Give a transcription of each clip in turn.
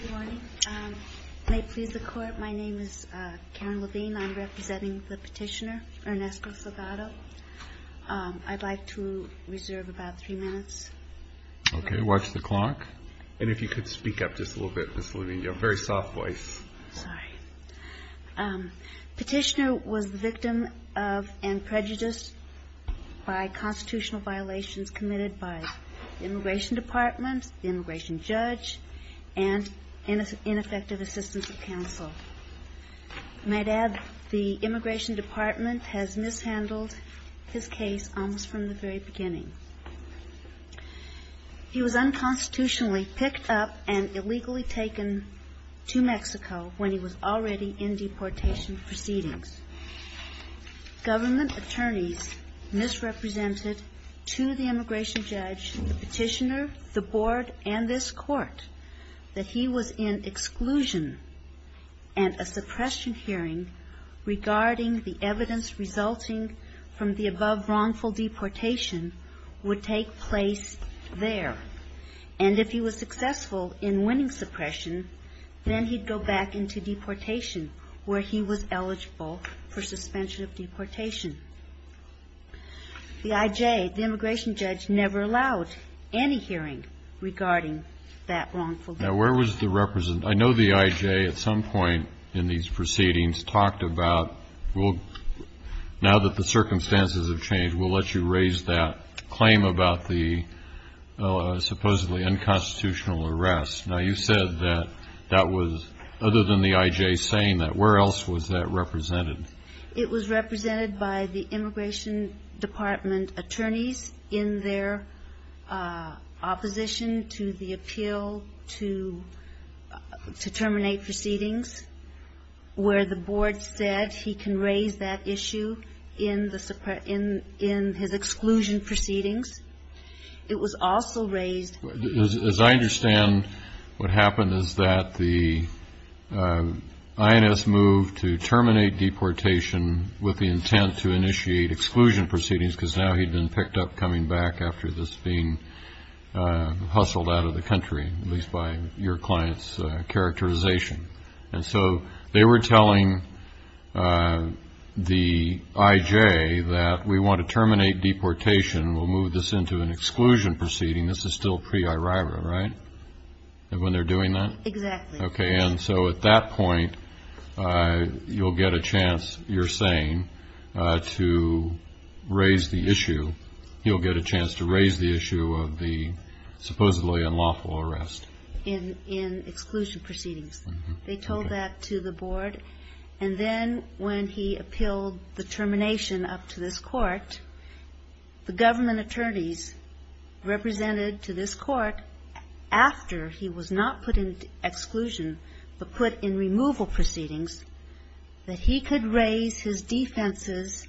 Good morning. May it please the Court, my name is Karen Levine. I'm representing the petitioner, Ernesto Salgado. I'd like to reserve about three minutes. Okay, watch the clock. And if you could speak up just a little bit, Ms. Levine, you have a very soft voice. Sorry. Petitioner was the victim of and prejudiced by constitutional violations committed by the Immigration Department, the immigration judge, and ineffective assistance of counsel. I might add the Immigration Department has mishandled his case almost from the very beginning. He was unconstitutionally picked up and illegally taken to Mexico when he was already in deportation proceedings. Government attorneys misrepresented to the immigration judge, the petitioner, the board, and this Court that he was in exclusion and a suppression hearing regarding the evidence resulting from the above wrongful deportation would take place there. And if he was successful in winning suppression, then he'd go back into deportation where he was eligible for suspension of deportation. The I.J., the immigration judge, never allowed any hearing regarding that wrongful deportation. Now, where was the representative? I know the I.J. at some point in these proceedings talked about, well, now that the circumstances have changed, we'll let you raise that claim about the supposedly unconstitutional arrest. Now, you said that that was, other than the I.J. saying that, where else was that represented? It was represented by the Immigration Department attorneys in their opposition to the appeal to terminate proceedings where the board said he can raise that issue in his exclusion proceedings. It was also raised. As I understand, what happened is that the I.N.S. moved to terminate deportation with the intent to initiate exclusion proceedings because now he'd been picked up coming back after this being hustled out of the country, at least by your client's characterization. And so they were telling the I.J. that we want to terminate deportation. We'll move this into an exclusion proceeding. This is still pre-IRIRA, right, when they're doing that? Exactly. Okay. And so at that point, you'll get a chance, you're saying, to raise the issue. He'll get a chance to raise the issue of the supposedly unlawful arrest. In exclusion proceedings. They told that to the board. And then when he appealed the termination up to this Court, the government attorneys represented to this Court, after he was not put in exclusion, but put in removal proceedings, that he could raise his defenses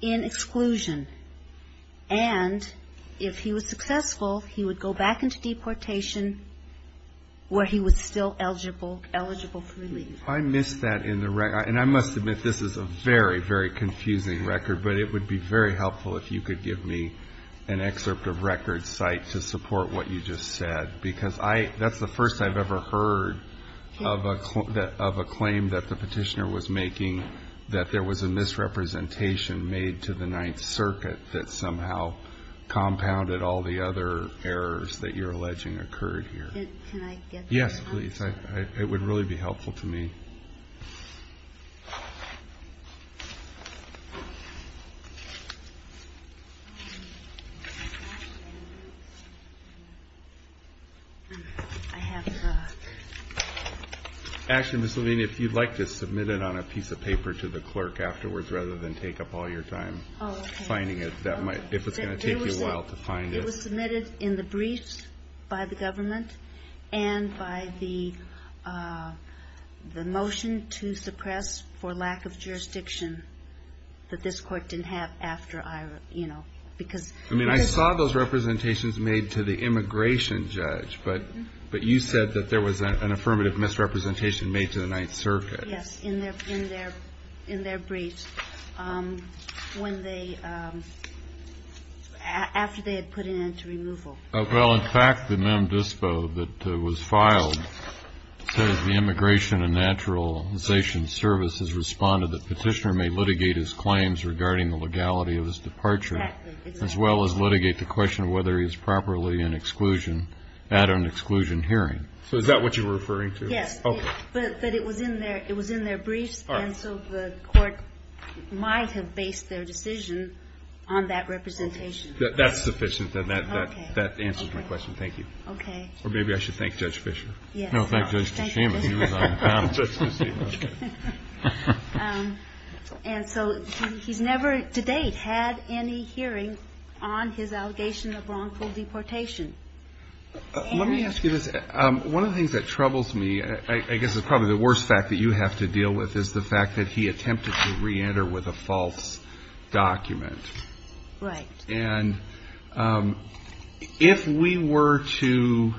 in exclusion. And if he was successful, he would go back into deportation where he was still eligible, eligible for release. I missed that in the record. And I must admit, this is a very, very confusing record. But it would be very helpful if you could give me an excerpt of record site to support what you just said. Because that's the first I've ever heard of a claim that the Petitioner was making, that there was a misrepresentation made to the Ninth Circuit that somehow compounded all the other errors that you're alleging occurred here. Can I get that? Yes, please. It would really be helpful to me. Actually, Ms. Levine, if you'd like to submit it on a piece of paper to the clerk afterwards, rather than take up all your time finding it, if it's going to take you a while to find it. It was submitted in the briefs by the government and by the motion to suppress for lack of jurisdiction that this court didn't have after I, you know, because... I mean, I saw those representations made to the immigration judge, but you said that there was an affirmative misrepresentation made to the Ninth Circuit. Yes, in their briefs when they, after they had put an end to removal. Well, in fact, the mem dispo that was filed says the Immigration and Naturalization Service has responded that Petitioner may litigate his claims regarding the legality of his departure... Exactly. ...as well as litigate the question of whether he is properly in exclusion at an exclusion hearing. So is that what you were referring to? Yes. Okay. But it was in their briefs, and so the court might have based their decision on that representation. That's sufficient. Okay. And that answers my question. Thank you. Okay. Or maybe I should thank Judge Fischer. Yes. No, thank Judge Tashima. Thank you. She was on panel. And so he's never, to date, had any hearing on his allegation of wrongful deportation. Let me ask you this. One of the things that troubles me, I guess it's probably the worst fact that you have to deal with, is the fact that he attempted to reenter with a false document. Right. And if we were to,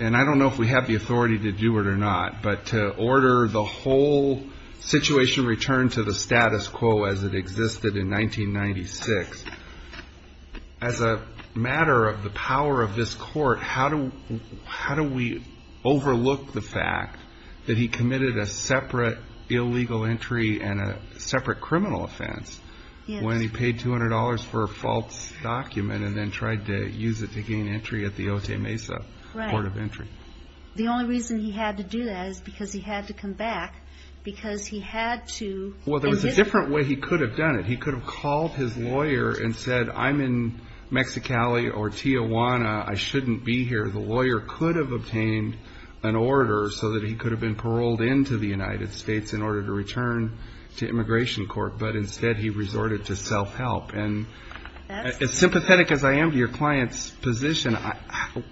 and I don't know if we have the authority to do it or not, but to order the whole situation returned to the status quo as it existed in 1996, as a matter of the power of this court, how do we overlook the fact that he committed a separate illegal entry and a separate criminal offense when he paid $200 for a false document and then tried to use it to gain entry at the Otay Mesa Court of Entry? Right. The only reason he had to do that is because he had to come back because he had to. Well, there was a different way he could have done it. He could have called his lawyer and said, I'm in Mexicali or Tijuana, I shouldn't be here. The lawyer could have obtained an order so that he could have been paroled into the United States in order to return to Immigration Court, but instead he resorted to self-help. And as sympathetic as I am to your client's position,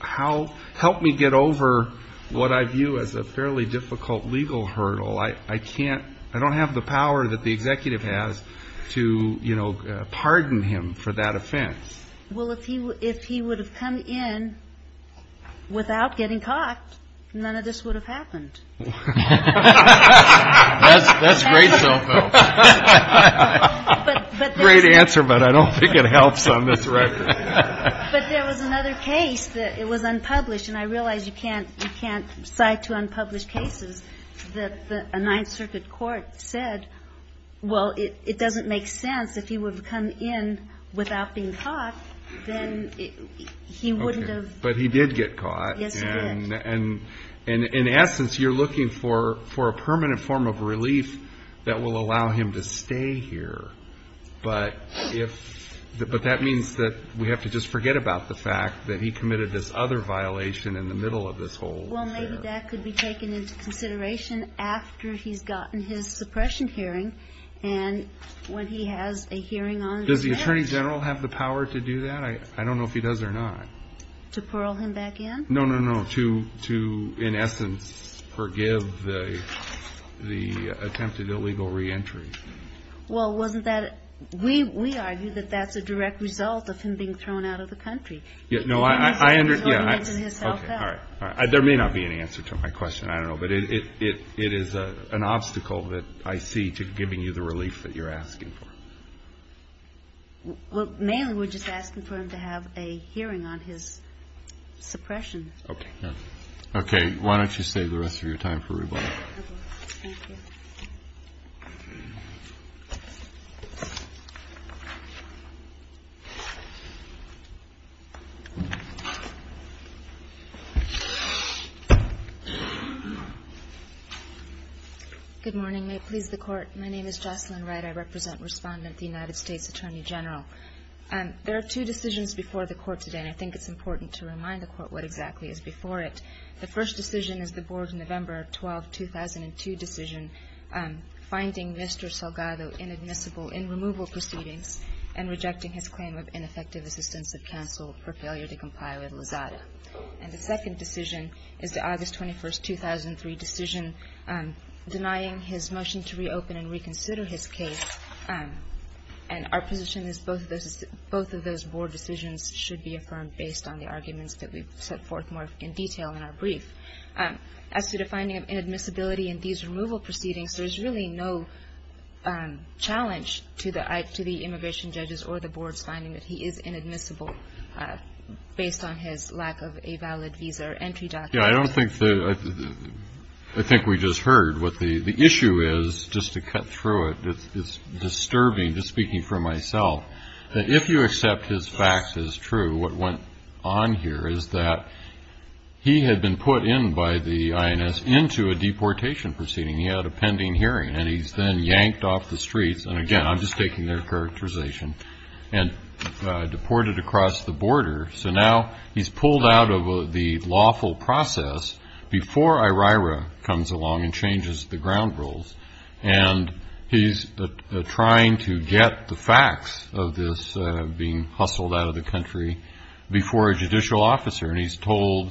help me get over what I view as a fairly difficult legal hurdle. I can't, I don't have the power that the executive has to, you know, pardon him for that offense. Well, if he would have come in without getting caught, none of this would have happened. That's great self-help. Great answer, but I don't think it helps on this record. But there was another case that was unpublished, and I realize you can't cite two unpublished cases, that a Ninth Circuit court said, well, it doesn't make sense if he would have come in without being caught, then he wouldn't have. But he did get caught. Yes, he did. And in essence, you're looking for a permanent form of relief that will allow him to stay here. But if, but that means that we have to just forget about the fact that he committed this other violation in the middle of this whole affair. Well, maybe that could be taken into consideration after he's gotten his suppression hearing, and when he has a hearing on his next. Does the Attorney General have the power to do that? I don't know if he does or not. To pearl him back in? No, no, no. To, in essence, forgive the attempted illegal reentry. Well, wasn't that, we argue that that's a direct result of him being thrown out of the country. No, I understand. Okay, all right. There may not be an answer to my question, I don't know. But it is an obstacle that I see to giving you the relief that you're asking for. Well, mainly we're just asking for him to have a hearing on his suppression. Okay. Okay. Why don't you save the rest of your time for rebuttal. Thank you. Good morning. May it please the Court. My name is Jocelyn Wright. I represent Respondent, the United States Attorney General. There are two decisions before the Court today, and I think it's important to remind the Court what exactly is before it. The first decision is the Board's November 12, 2002 decision, finding Mr. Salgado inadmissible in removal proceedings and rejecting his claim of ineffective assistance of counsel for failure to comply with Lozada. And the second decision is the August 21, 2003 decision denying his motion to reopen and reconsider his case. And our position is both of those Board decisions should be affirmed based on the arguments that we've set forth more in detail in our brief. As to the finding of inadmissibility in these removal proceedings, there is really no challenge to the immigration judges or the Board's finding that he is inadmissible based on his lack of a valid visa or entry document. Yeah, I don't think the – I think we just heard what the issue is. Just to cut through it, it's disturbing, just speaking for myself, that if you accept his facts as true, what went on here is that he had been put in by the INS into a deportation proceeding. He had a pending hearing, and he's then yanked off the streets – and again, I'm just taking their characterization – and deported across the border. So now he's pulled out of the lawful process before IRIRA comes along and changes the ground rules. And he's trying to get the facts of this being hustled out of the country before a judicial officer. And he's told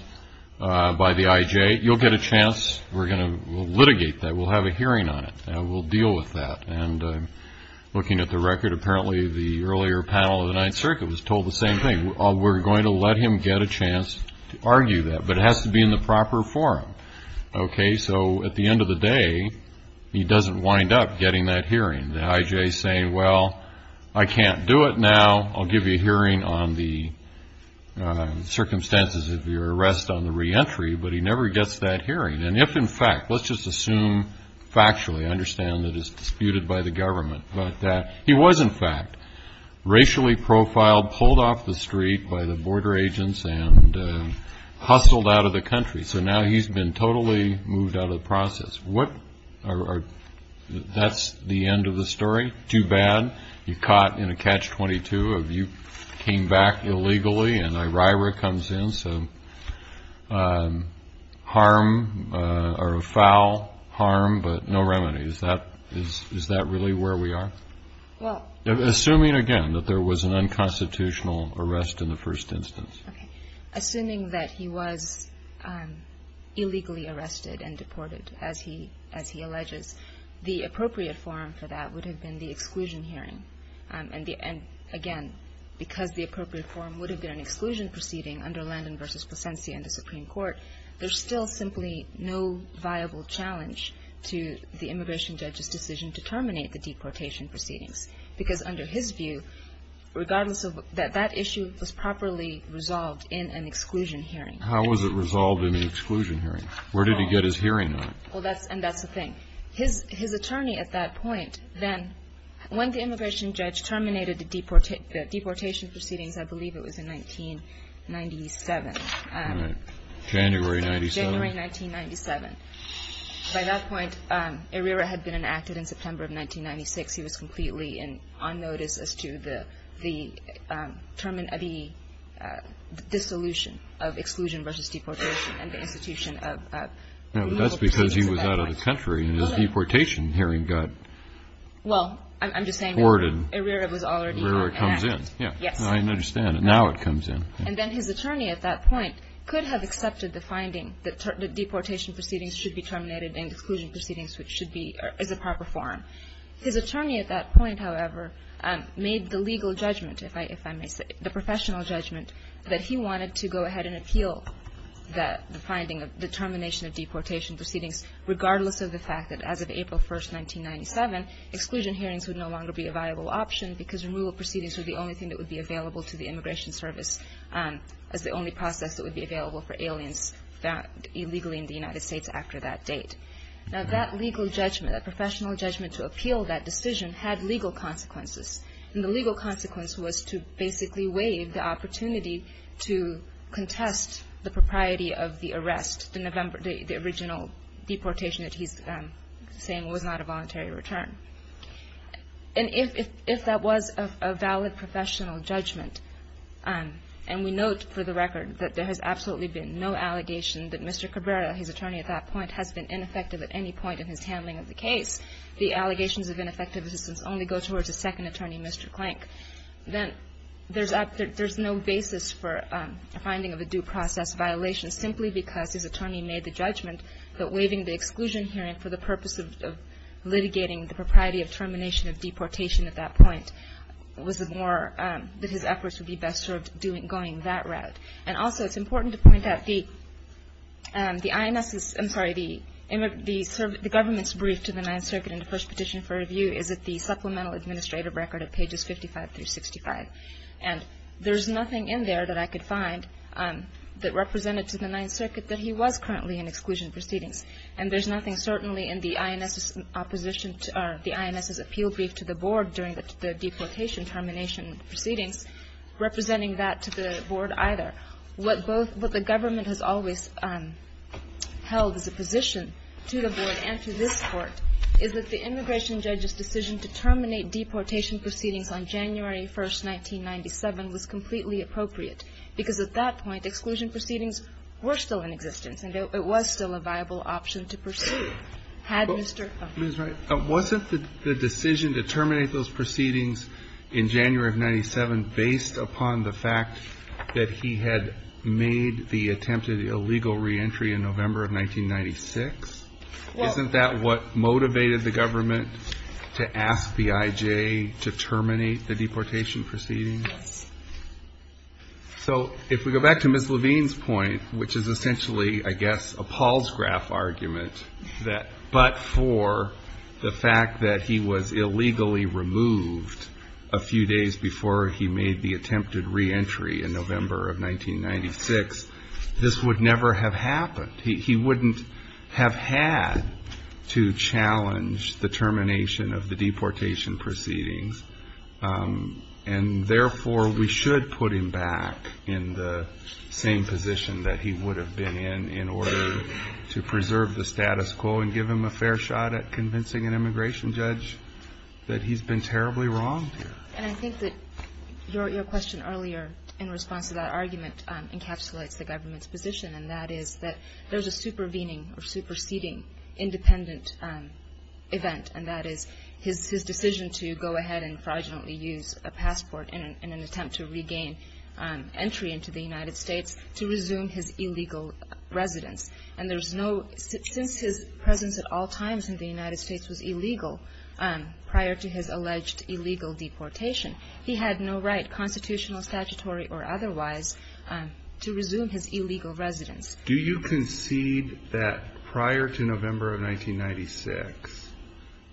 by the IJ, you'll get a chance. We're going to litigate that. We'll have a hearing on it, and we'll deal with that. And looking at the record, apparently the earlier panel of the Ninth Circuit was told the same thing. We're going to let him get a chance to argue that, but it has to be in the proper forum. So at the end of the day, he doesn't wind up getting that hearing. The IJ is saying, well, I can't do it now. I'll give you a hearing on the circumstances of your arrest on the reentry. But he never gets that hearing. And if, in fact – let's just assume factually. I understand that it's disputed by the government. But he was, in fact, racially profiled, pulled off the street by the border agents, and hustled out of the country. So now he's been totally moved out of the process. That's the end of the story? Too bad. You're caught in a Catch-22. You came back illegally, and IRIRA comes in. So harm, or a foul harm, but no remedies. Is that really where we are? Well – Assuming, again, that there was an unconstitutional arrest in the first instance. Okay. Assuming that he was illegally arrested and deported, as he alleges, the appropriate forum for that would have been the exclusion hearing. And, again, because the appropriate forum would have been an exclusion proceeding under Landon v. Placencia in the Supreme Court, there's still simply no viable challenge to the immigration judge's decision to terminate the deportation proceedings. Because under his view, regardless of – that that issue was properly resolved in an exclusion hearing. How was it resolved in an exclusion hearing? Where did he get his hearing on it? Well, that's – and that's the thing. His attorney at that point then, when the immigration judge terminated the deportation proceedings, I believe it was in 1997 – All right. January 1997. January 1997. By that point, Herrera had been enacted in September of 1996. He was completely on notice as to the dissolution of exclusion versus deportation and the institution of legal proceedings at that point. Now, that's because he was out of the country, and his deportation hearing got – Well, I'm just saying that Herrera was already enacted. Herrera comes in. Yes. I understand. Now it comes in. And then his attorney at that point could have accepted the finding that deportation proceedings should be terminated and exclusion proceedings should be – is a proper form. His attorney at that point, however, made the legal judgment, if I may say – the professional judgment that he wanted to go ahead and appeal the finding, the termination of deportation proceedings, regardless of the fact that as of April 1, 1997, exclusion hearings would no longer be a viable option because removal proceedings were the only thing that would be available to the Immigration Service as the only process that would be available for aliens illegally in the United States after that date. Now, that legal judgment, that professional judgment to appeal that decision, had legal consequences. And the legal consequence was to basically waive the opportunity to contest the propriety of the arrest, the original deportation that he's saying was not a voluntary return. And if that was a valid professional judgment, and we note for the record that there has absolutely been no allegation that Mr. Cabrera, his attorney at that point, has been ineffective at any point in his handling of the case, the allegations of ineffective assistance only go towards the second attorney, Mr. Clank, then there's no basis for a finding of a due process violation simply because his attorney made the judgment that waiving the exclusion hearing for the purpose of litigating the propriety of termination of deportation at that point was the more that his efforts would be best served going that route. And also it's important to point out the INS, I'm sorry, the government's brief to the Ninth Circuit in the first petition for review is at the Supplemental Administrative Record at pages 55 through 65. And there's nothing in there that I could find that represented to the Ninth Circuit that he was currently in exclusion proceedings. And there's nothing certainly in the INS's appeal brief to the Board during the deportation termination proceedings representing that to the Board either. What the government has always held as a position to the Board and to this Court is that the immigration judge's decision to terminate deportation proceedings on January 1, 1997, was completely appropriate, because at that point, exclusion proceedings were still in existence and it was still a viable option to pursue, had Mr. O'Connor. But, Ms. Wright, wasn't the decision to terminate those proceedings in January of 1997 based upon the fact that he had made the attempt at illegal reentry in November of 1996? Isn't that what motivated the government to ask BIJ to terminate the deportation proceedings? So, if we go back to Ms. Levine's point, which is essentially, I guess, a Paul's graph argument, that but for the fact that he was illegally removed a few days before he made the attempted reentry in November of 1996, this would never have happened. He wouldn't have had to challenge the termination of the deportation proceedings. And, therefore, we should put him back in the same position that he would have been in in order to preserve the status quo and give him a fair shot at convincing an immigration judge that he's been terribly wronged here. And I think that your question earlier, in response to that argument, encapsulates the government's position, and that is that there's a supervening or superseding independent event, and that is his decision to go ahead and fraudulently use a passport in an attempt to regain entry into the United States to resume his illegal residence. And there's no – since his presence at all times in the United States was illegal prior to his alleged illegal deportation, he had no right, constitutional, statutory, or otherwise, to resume his illegal residence. Do you concede that prior to November of 1996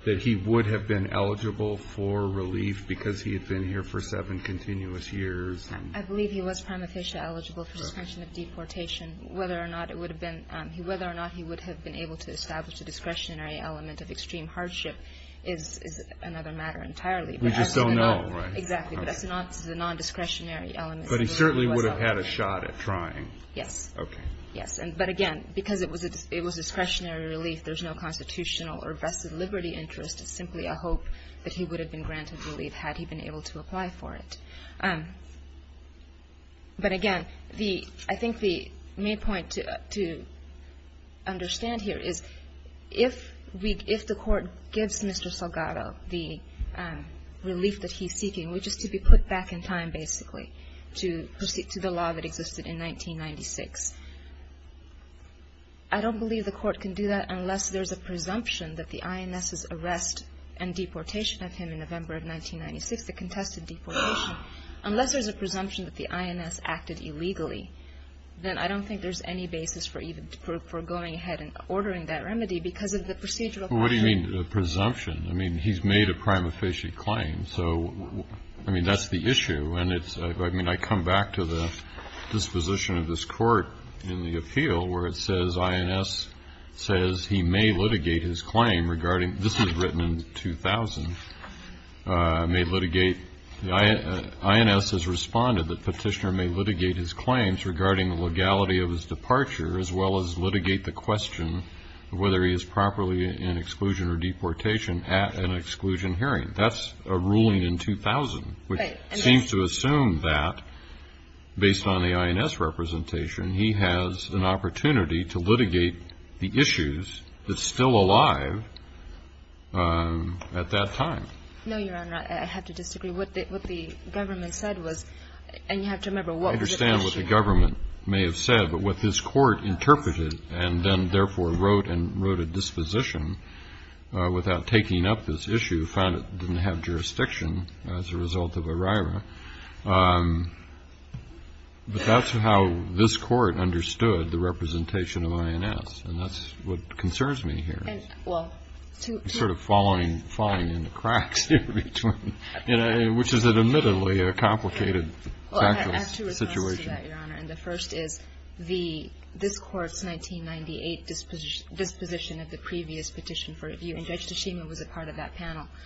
that he would have been eligible for relief because he had been here for seven continuous years? I believe he was prima facie eligible for suspension of deportation. Whether or not it would have been – whether or not he would have been able to establish a discretionary element of extreme hardship is another matter entirely. We just don't know, right? Exactly, but that's not the non-discretionary element. But he certainly would have had a shot at trying. Yes. Okay. Yes. But, again, because it was discretionary relief, there's no constitutional or vested liberty interest. It's simply a hope that he would have been granted relief had he been able to apply for it. But, again, the – I think the main point to understand here is if we – I mean, we're just – to be put back in time, basically, to the law that existed in 1996. I don't believe the Court can do that unless there's a presumption that the INS's arrest and deportation of him in November of 1996, the contested deportation, unless there's a presumption that the INS acted illegally, then I don't think there's any basis for even – for going ahead and ordering that remedy because of the procedural question. What do you mean, the presumption? I mean, he's made a prime officiate claim. So, I mean, that's the issue. And it's – I mean, I come back to the disposition of this Court in the appeal where it says INS says he may litigate his claim regarding – this was written in 2000 – may litigate – INS has responded that Petitioner may litigate his claims regarding the legality of his departure as well as litigate the question of whether he is properly in exclusion or deportation at an exclusion hearing. That's a ruling in 2000, which seems to assume that, based on the INS representation, he has an opportunity to litigate the issues that's still alive at that time. No, Your Honor, I have to disagree. What the government said was – and you have to remember what was at issue. What the government may have said, but what this Court interpreted and then therefore wrote and wrote a disposition without taking up this issue, found it didn't have jurisdiction as a result of ERIRA. But that's how this Court understood the representation of INS. And that's what concerns me here. Well, to – Sort of falling into cracks here between – which is admittedly a complicated factual situation. I agree with that, Your Honor. And the first is the – this Court's 1998 disposition of the previous petition for review – and Judge Tachima was a part of that panel –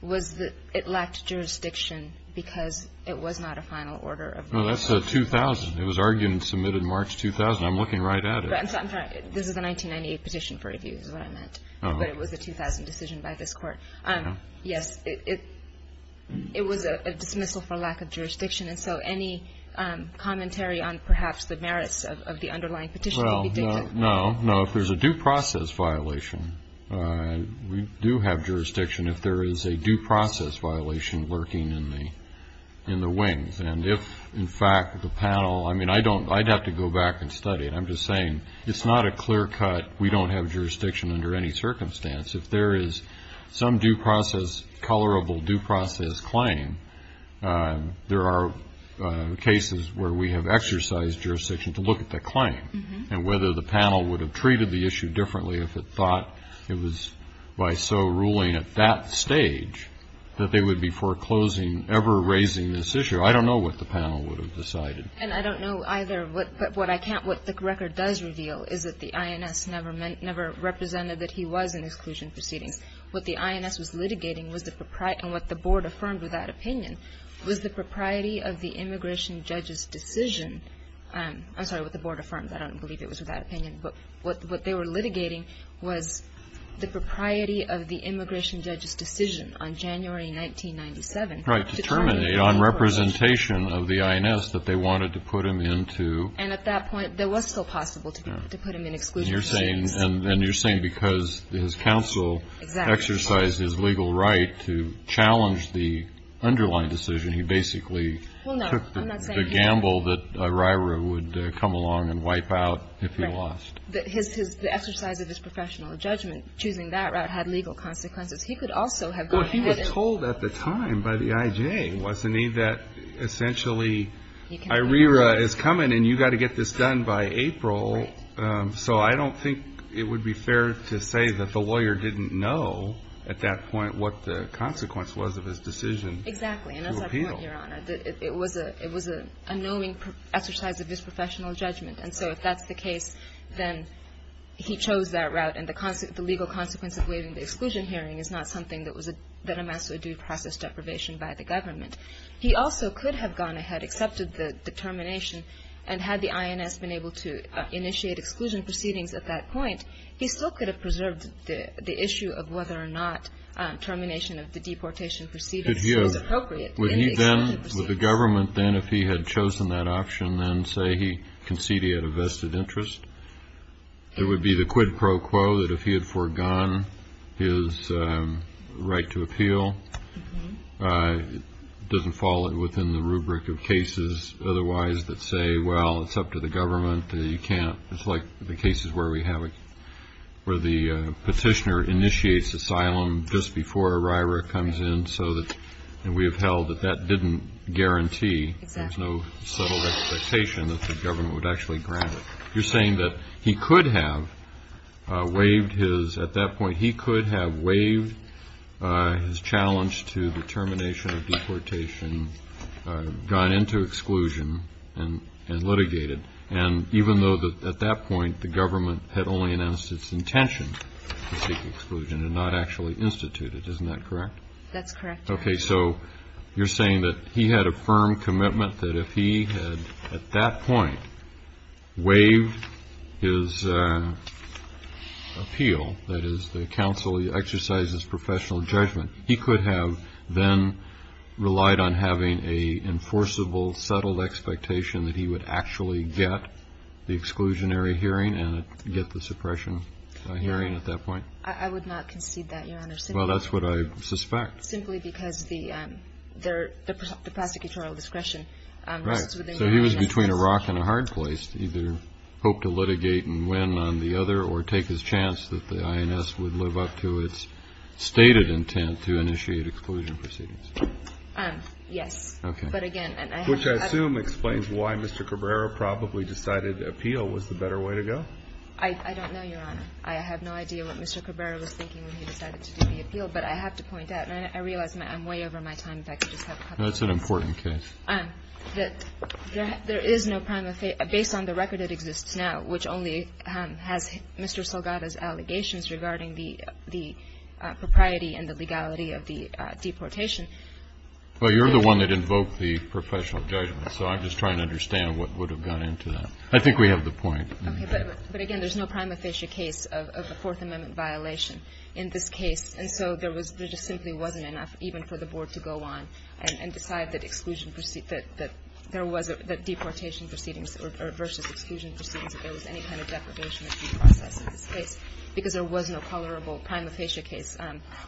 was that it lacked jurisdiction because it was not a final order of the – No, that's the 2000. It was argued and submitted in March 2000. I'm looking right at it. I'm sorry. This is the 1998 petition for review is what I meant. But it was the 2000 decision by this Court. Yes. It was a dismissal for lack of jurisdiction. And so any commentary on perhaps the merits of the underlying petition could be dated. Well, no, no. If there's a due process violation, we do have jurisdiction if there is a due process violation lurking in the wings. And if, in fact, the panel – I mean, I don't – I'd have to go back and study it. I'm just saying it's not a clear cut, we don't have jurisdiction under any circumstance. If there is some due process – colorable due process claim, there are cases where we have exercised jurisdiction to look at the claim and whether the panel would have treated the issue differently if it thought it was by so ruling at that stage that they would be foreclosing ever raising this issue. I don't know what the panel would have decided. And I don't know either. But what I can't – what the record does reveal is that the INS never represented that he was in exclusion proceedings. What the INS was litigating was the – and what the Board affirmed with that opinion was the propriety of the immigration judge's decision – I'm sorry, what the Board affirmed. I don't believe it was with that opinion. But what they were litigating was the propriety of the immigration judge's decision on January 1997. Right. To terminate on representation of the INS that they wanted to put him into – And at that point, it was still possible to put him in exclusion proceedings. And you're saying because his counsel exercised his legal right to challenge the underlying decision, he basically took the gamble that RIRA would come along and wipe out if he lost. Right. The exercise of his professional judgment choosing that route had legal consequences. He could also have gone ahead and – Well, he was told at the time by the IJ, wasn't he, that essentially RIRA is coming and you've got to get this done by April. Right. So I don't think it would be fair to say that the lawyer didn't know at that point what the consequence was of his decision to appeal. Exactly. And that's my point, Your Honor. It was an unknowing exercise of his professional judgment. And so if that's the case, then he chose that route. And the legal consequence of waiving the exclusion hearing is not something that amassed a due process deprivation by the government. He also could have gone ahead, accepted the termination, and had the INS been able to initiate exclusion proceedings at that point, he still could have preserved the issue of whether or not termination of the deportation proceedings was appropriate in the exclusion proceedings. Would the government then, if he had chosen that option, then say he conceded a vested interest? It would be the quid pro quo that if he had foregone his right to appeal, it doesn't fall within the rubric of cases otherwise that say, well, it's up to the government, you can't. It's like the cases where we have it, where the petitioner initiates asylum just before a RIRA comes in so that, and we have held that that didn't guarantee. Exactly. There's no settled expectation that the government would actually grant it. You're saying that he could have waived his, at that point, he could have waived his challenge to the termination of deportation, gone into exclusion, and litigated. And even though at that point the government had only announced its intention to seek exclusion and not actually institute it. Isn't that correct? That's correct. Okay. So you're saying that he had a firm commitment that if he had, at that point, waived his appeal, that is the counsel exercises professional judgment, he could have then relied on having a enforceable, settled expectation that he would actually get the exclusionary hearing and get the suppression hearing at that point? I would not concede that, Your Honor. Well, that's what I suspect. Simply because the prosecutorial discretion. Right. So he was between a rock and a hard place to either hope to litigate and win on the other or take his chance that the INS would live up to its stated intent to initiate exclusion proceedings. Yes. Okay. But again, and I have to. Which I assume explains why Mr. Cabrera probably decided appeal was the better way to go. I don't know, Your Honor. I have no idea what Mr. Cabrera was thinking when he decided to do the appeal, but I have to point out, and I realize I'm way over my time. In fact, I just have a couple of minutes. That's an important case. That there is no prima facie, based on the record that exists now, which only has Mr. Salgada's allegations regarding the propriety and the legality of the deportation. Well, you're the one that invoked the professional judgment, so I'm just trying to understand what would have gone into that. I think we have the point. Okay. But again, there's no prima facie case of a Fourth Amendment violation in this case. And so there just simply wasn't enough even for the Board to go on and decide that there was a deportation proceedings versus exclusion proceedings, if there was any kind of deprivation of due process in this case, because there was no tolerable prima facie case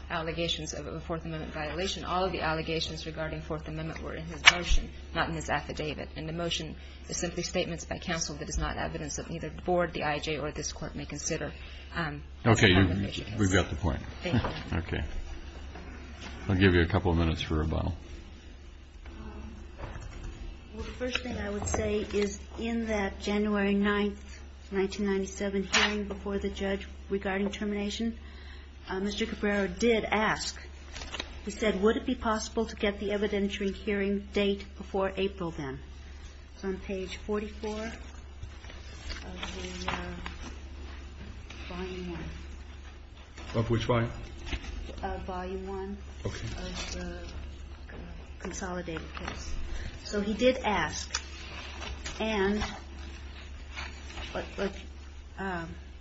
allegations of a Fourth Amendment violation. All of the allegations regarding Fourth Amendment were in his motion, not in his affidavit. And the motion is simply statements by counsel that is not evidence that neither the Board, the IJ, or this Court may consider. Okay. We've got the point. Thank you. Okay. I'll give you a couple of minutes for rebuttal. Well, the first thing I would say is in that January 9th, 1997 hearing before the judge regarding termination, Mr. Cabrera did ask, he said, would it be possible to get the evidentiary hearing date before April then? It's on page 44 of the volume 1. Of which volume? Volume 1. Okay. Of the consolidated case. So he did ask. And what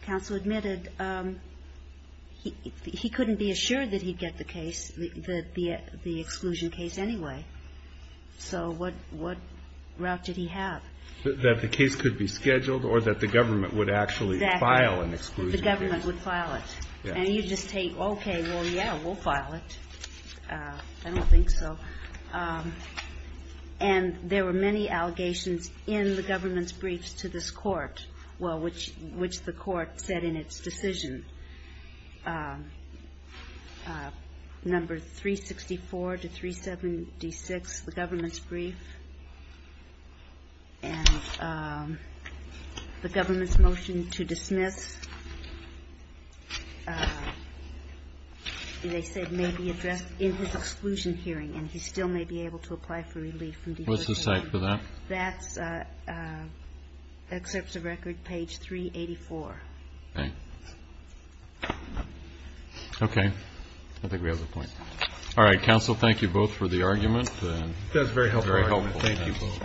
counsel admitted, he couldn't be assured that he'd get the case, the exclusion case anyway. So what route did he have? That the case could be scheduled or that the government would actually file an exclusion case. Exactly. The government would file it. And you just take, okay, well, yeah, we'll file it. I don't think so. And there were many allegations in the government's briefs to this Court, which the Court said in its decision, number 364 to 376, the government's brief. And the government's motion to dismiss, they said may be addressed in his exclusion hearing. And he still may be able to apply for relief. What's the site for that? That's excerpts of record page 384. Okay. I think we have the point. All right. Counsel, thank you both for the argument. That was a very helpful argument. Thank you both.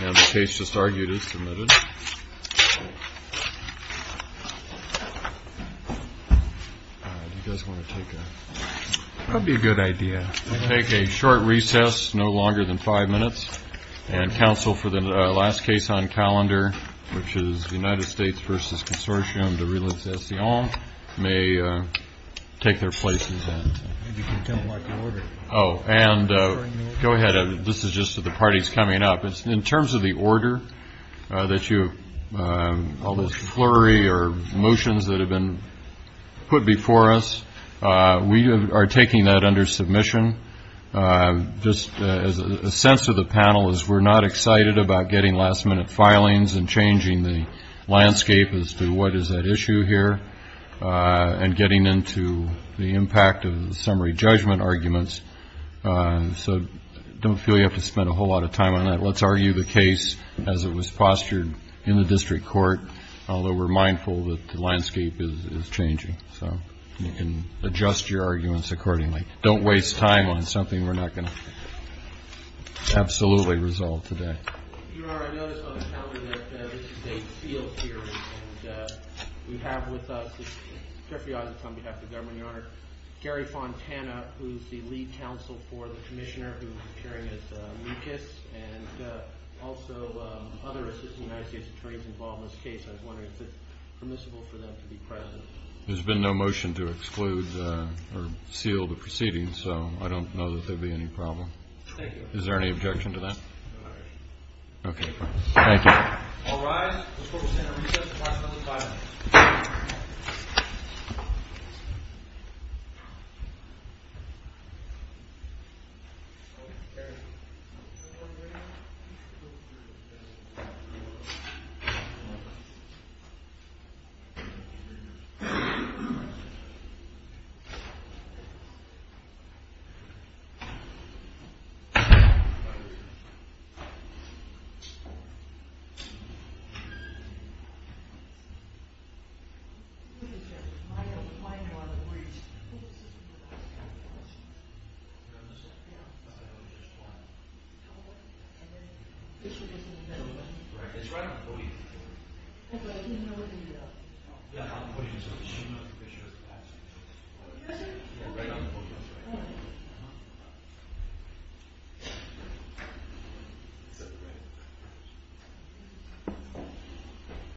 Now the case just argued is submitted. All right. He does want to take a break. That would be a good idea. We'll take a short recess, no longer than five minutes. And counsel for the last case on calendar, which is the United States v. Consortium de Reliefs Estes Hommes, may take their places then. Oh, and go ahead. This is just the parties coming up. In terms of the order that you have, all those flurry or motions that have been put before us, we are taking that under submission. Just a sense of the panel is we're not excited about getting last-minute filings and changing the landscape as to what is at issue here and getting into the impact of the summary judgment arguments. So I don't feel you have to spend a whole lot of time on that. Let's argue the case as it was postured in the district court, although we're mindful that the landscape is changing. So you can adjust your arguments accordingly. Don't waste time on something we're not going to absolutely resolve today. Your Honor, I noticed on the calendar that this is a sealed hearing, and we have with us, just a few items on behalf of the government, Your Honor, Gary Fontana, who is the lead counsel for the commissioner, who is appearing as Lucas, and also other Assistant United States Attorneys involved in this case. I was wondering if it's permissible for them to be present. There's been no motion to exclude or seal the proceedings, so I don't know that there would be any problem. Thank you. Is there any objection to that? No objection. Okay. Thank you. All rise. The court will stand at recess until 5 p.m. The court is adjourned. The court is adjourned.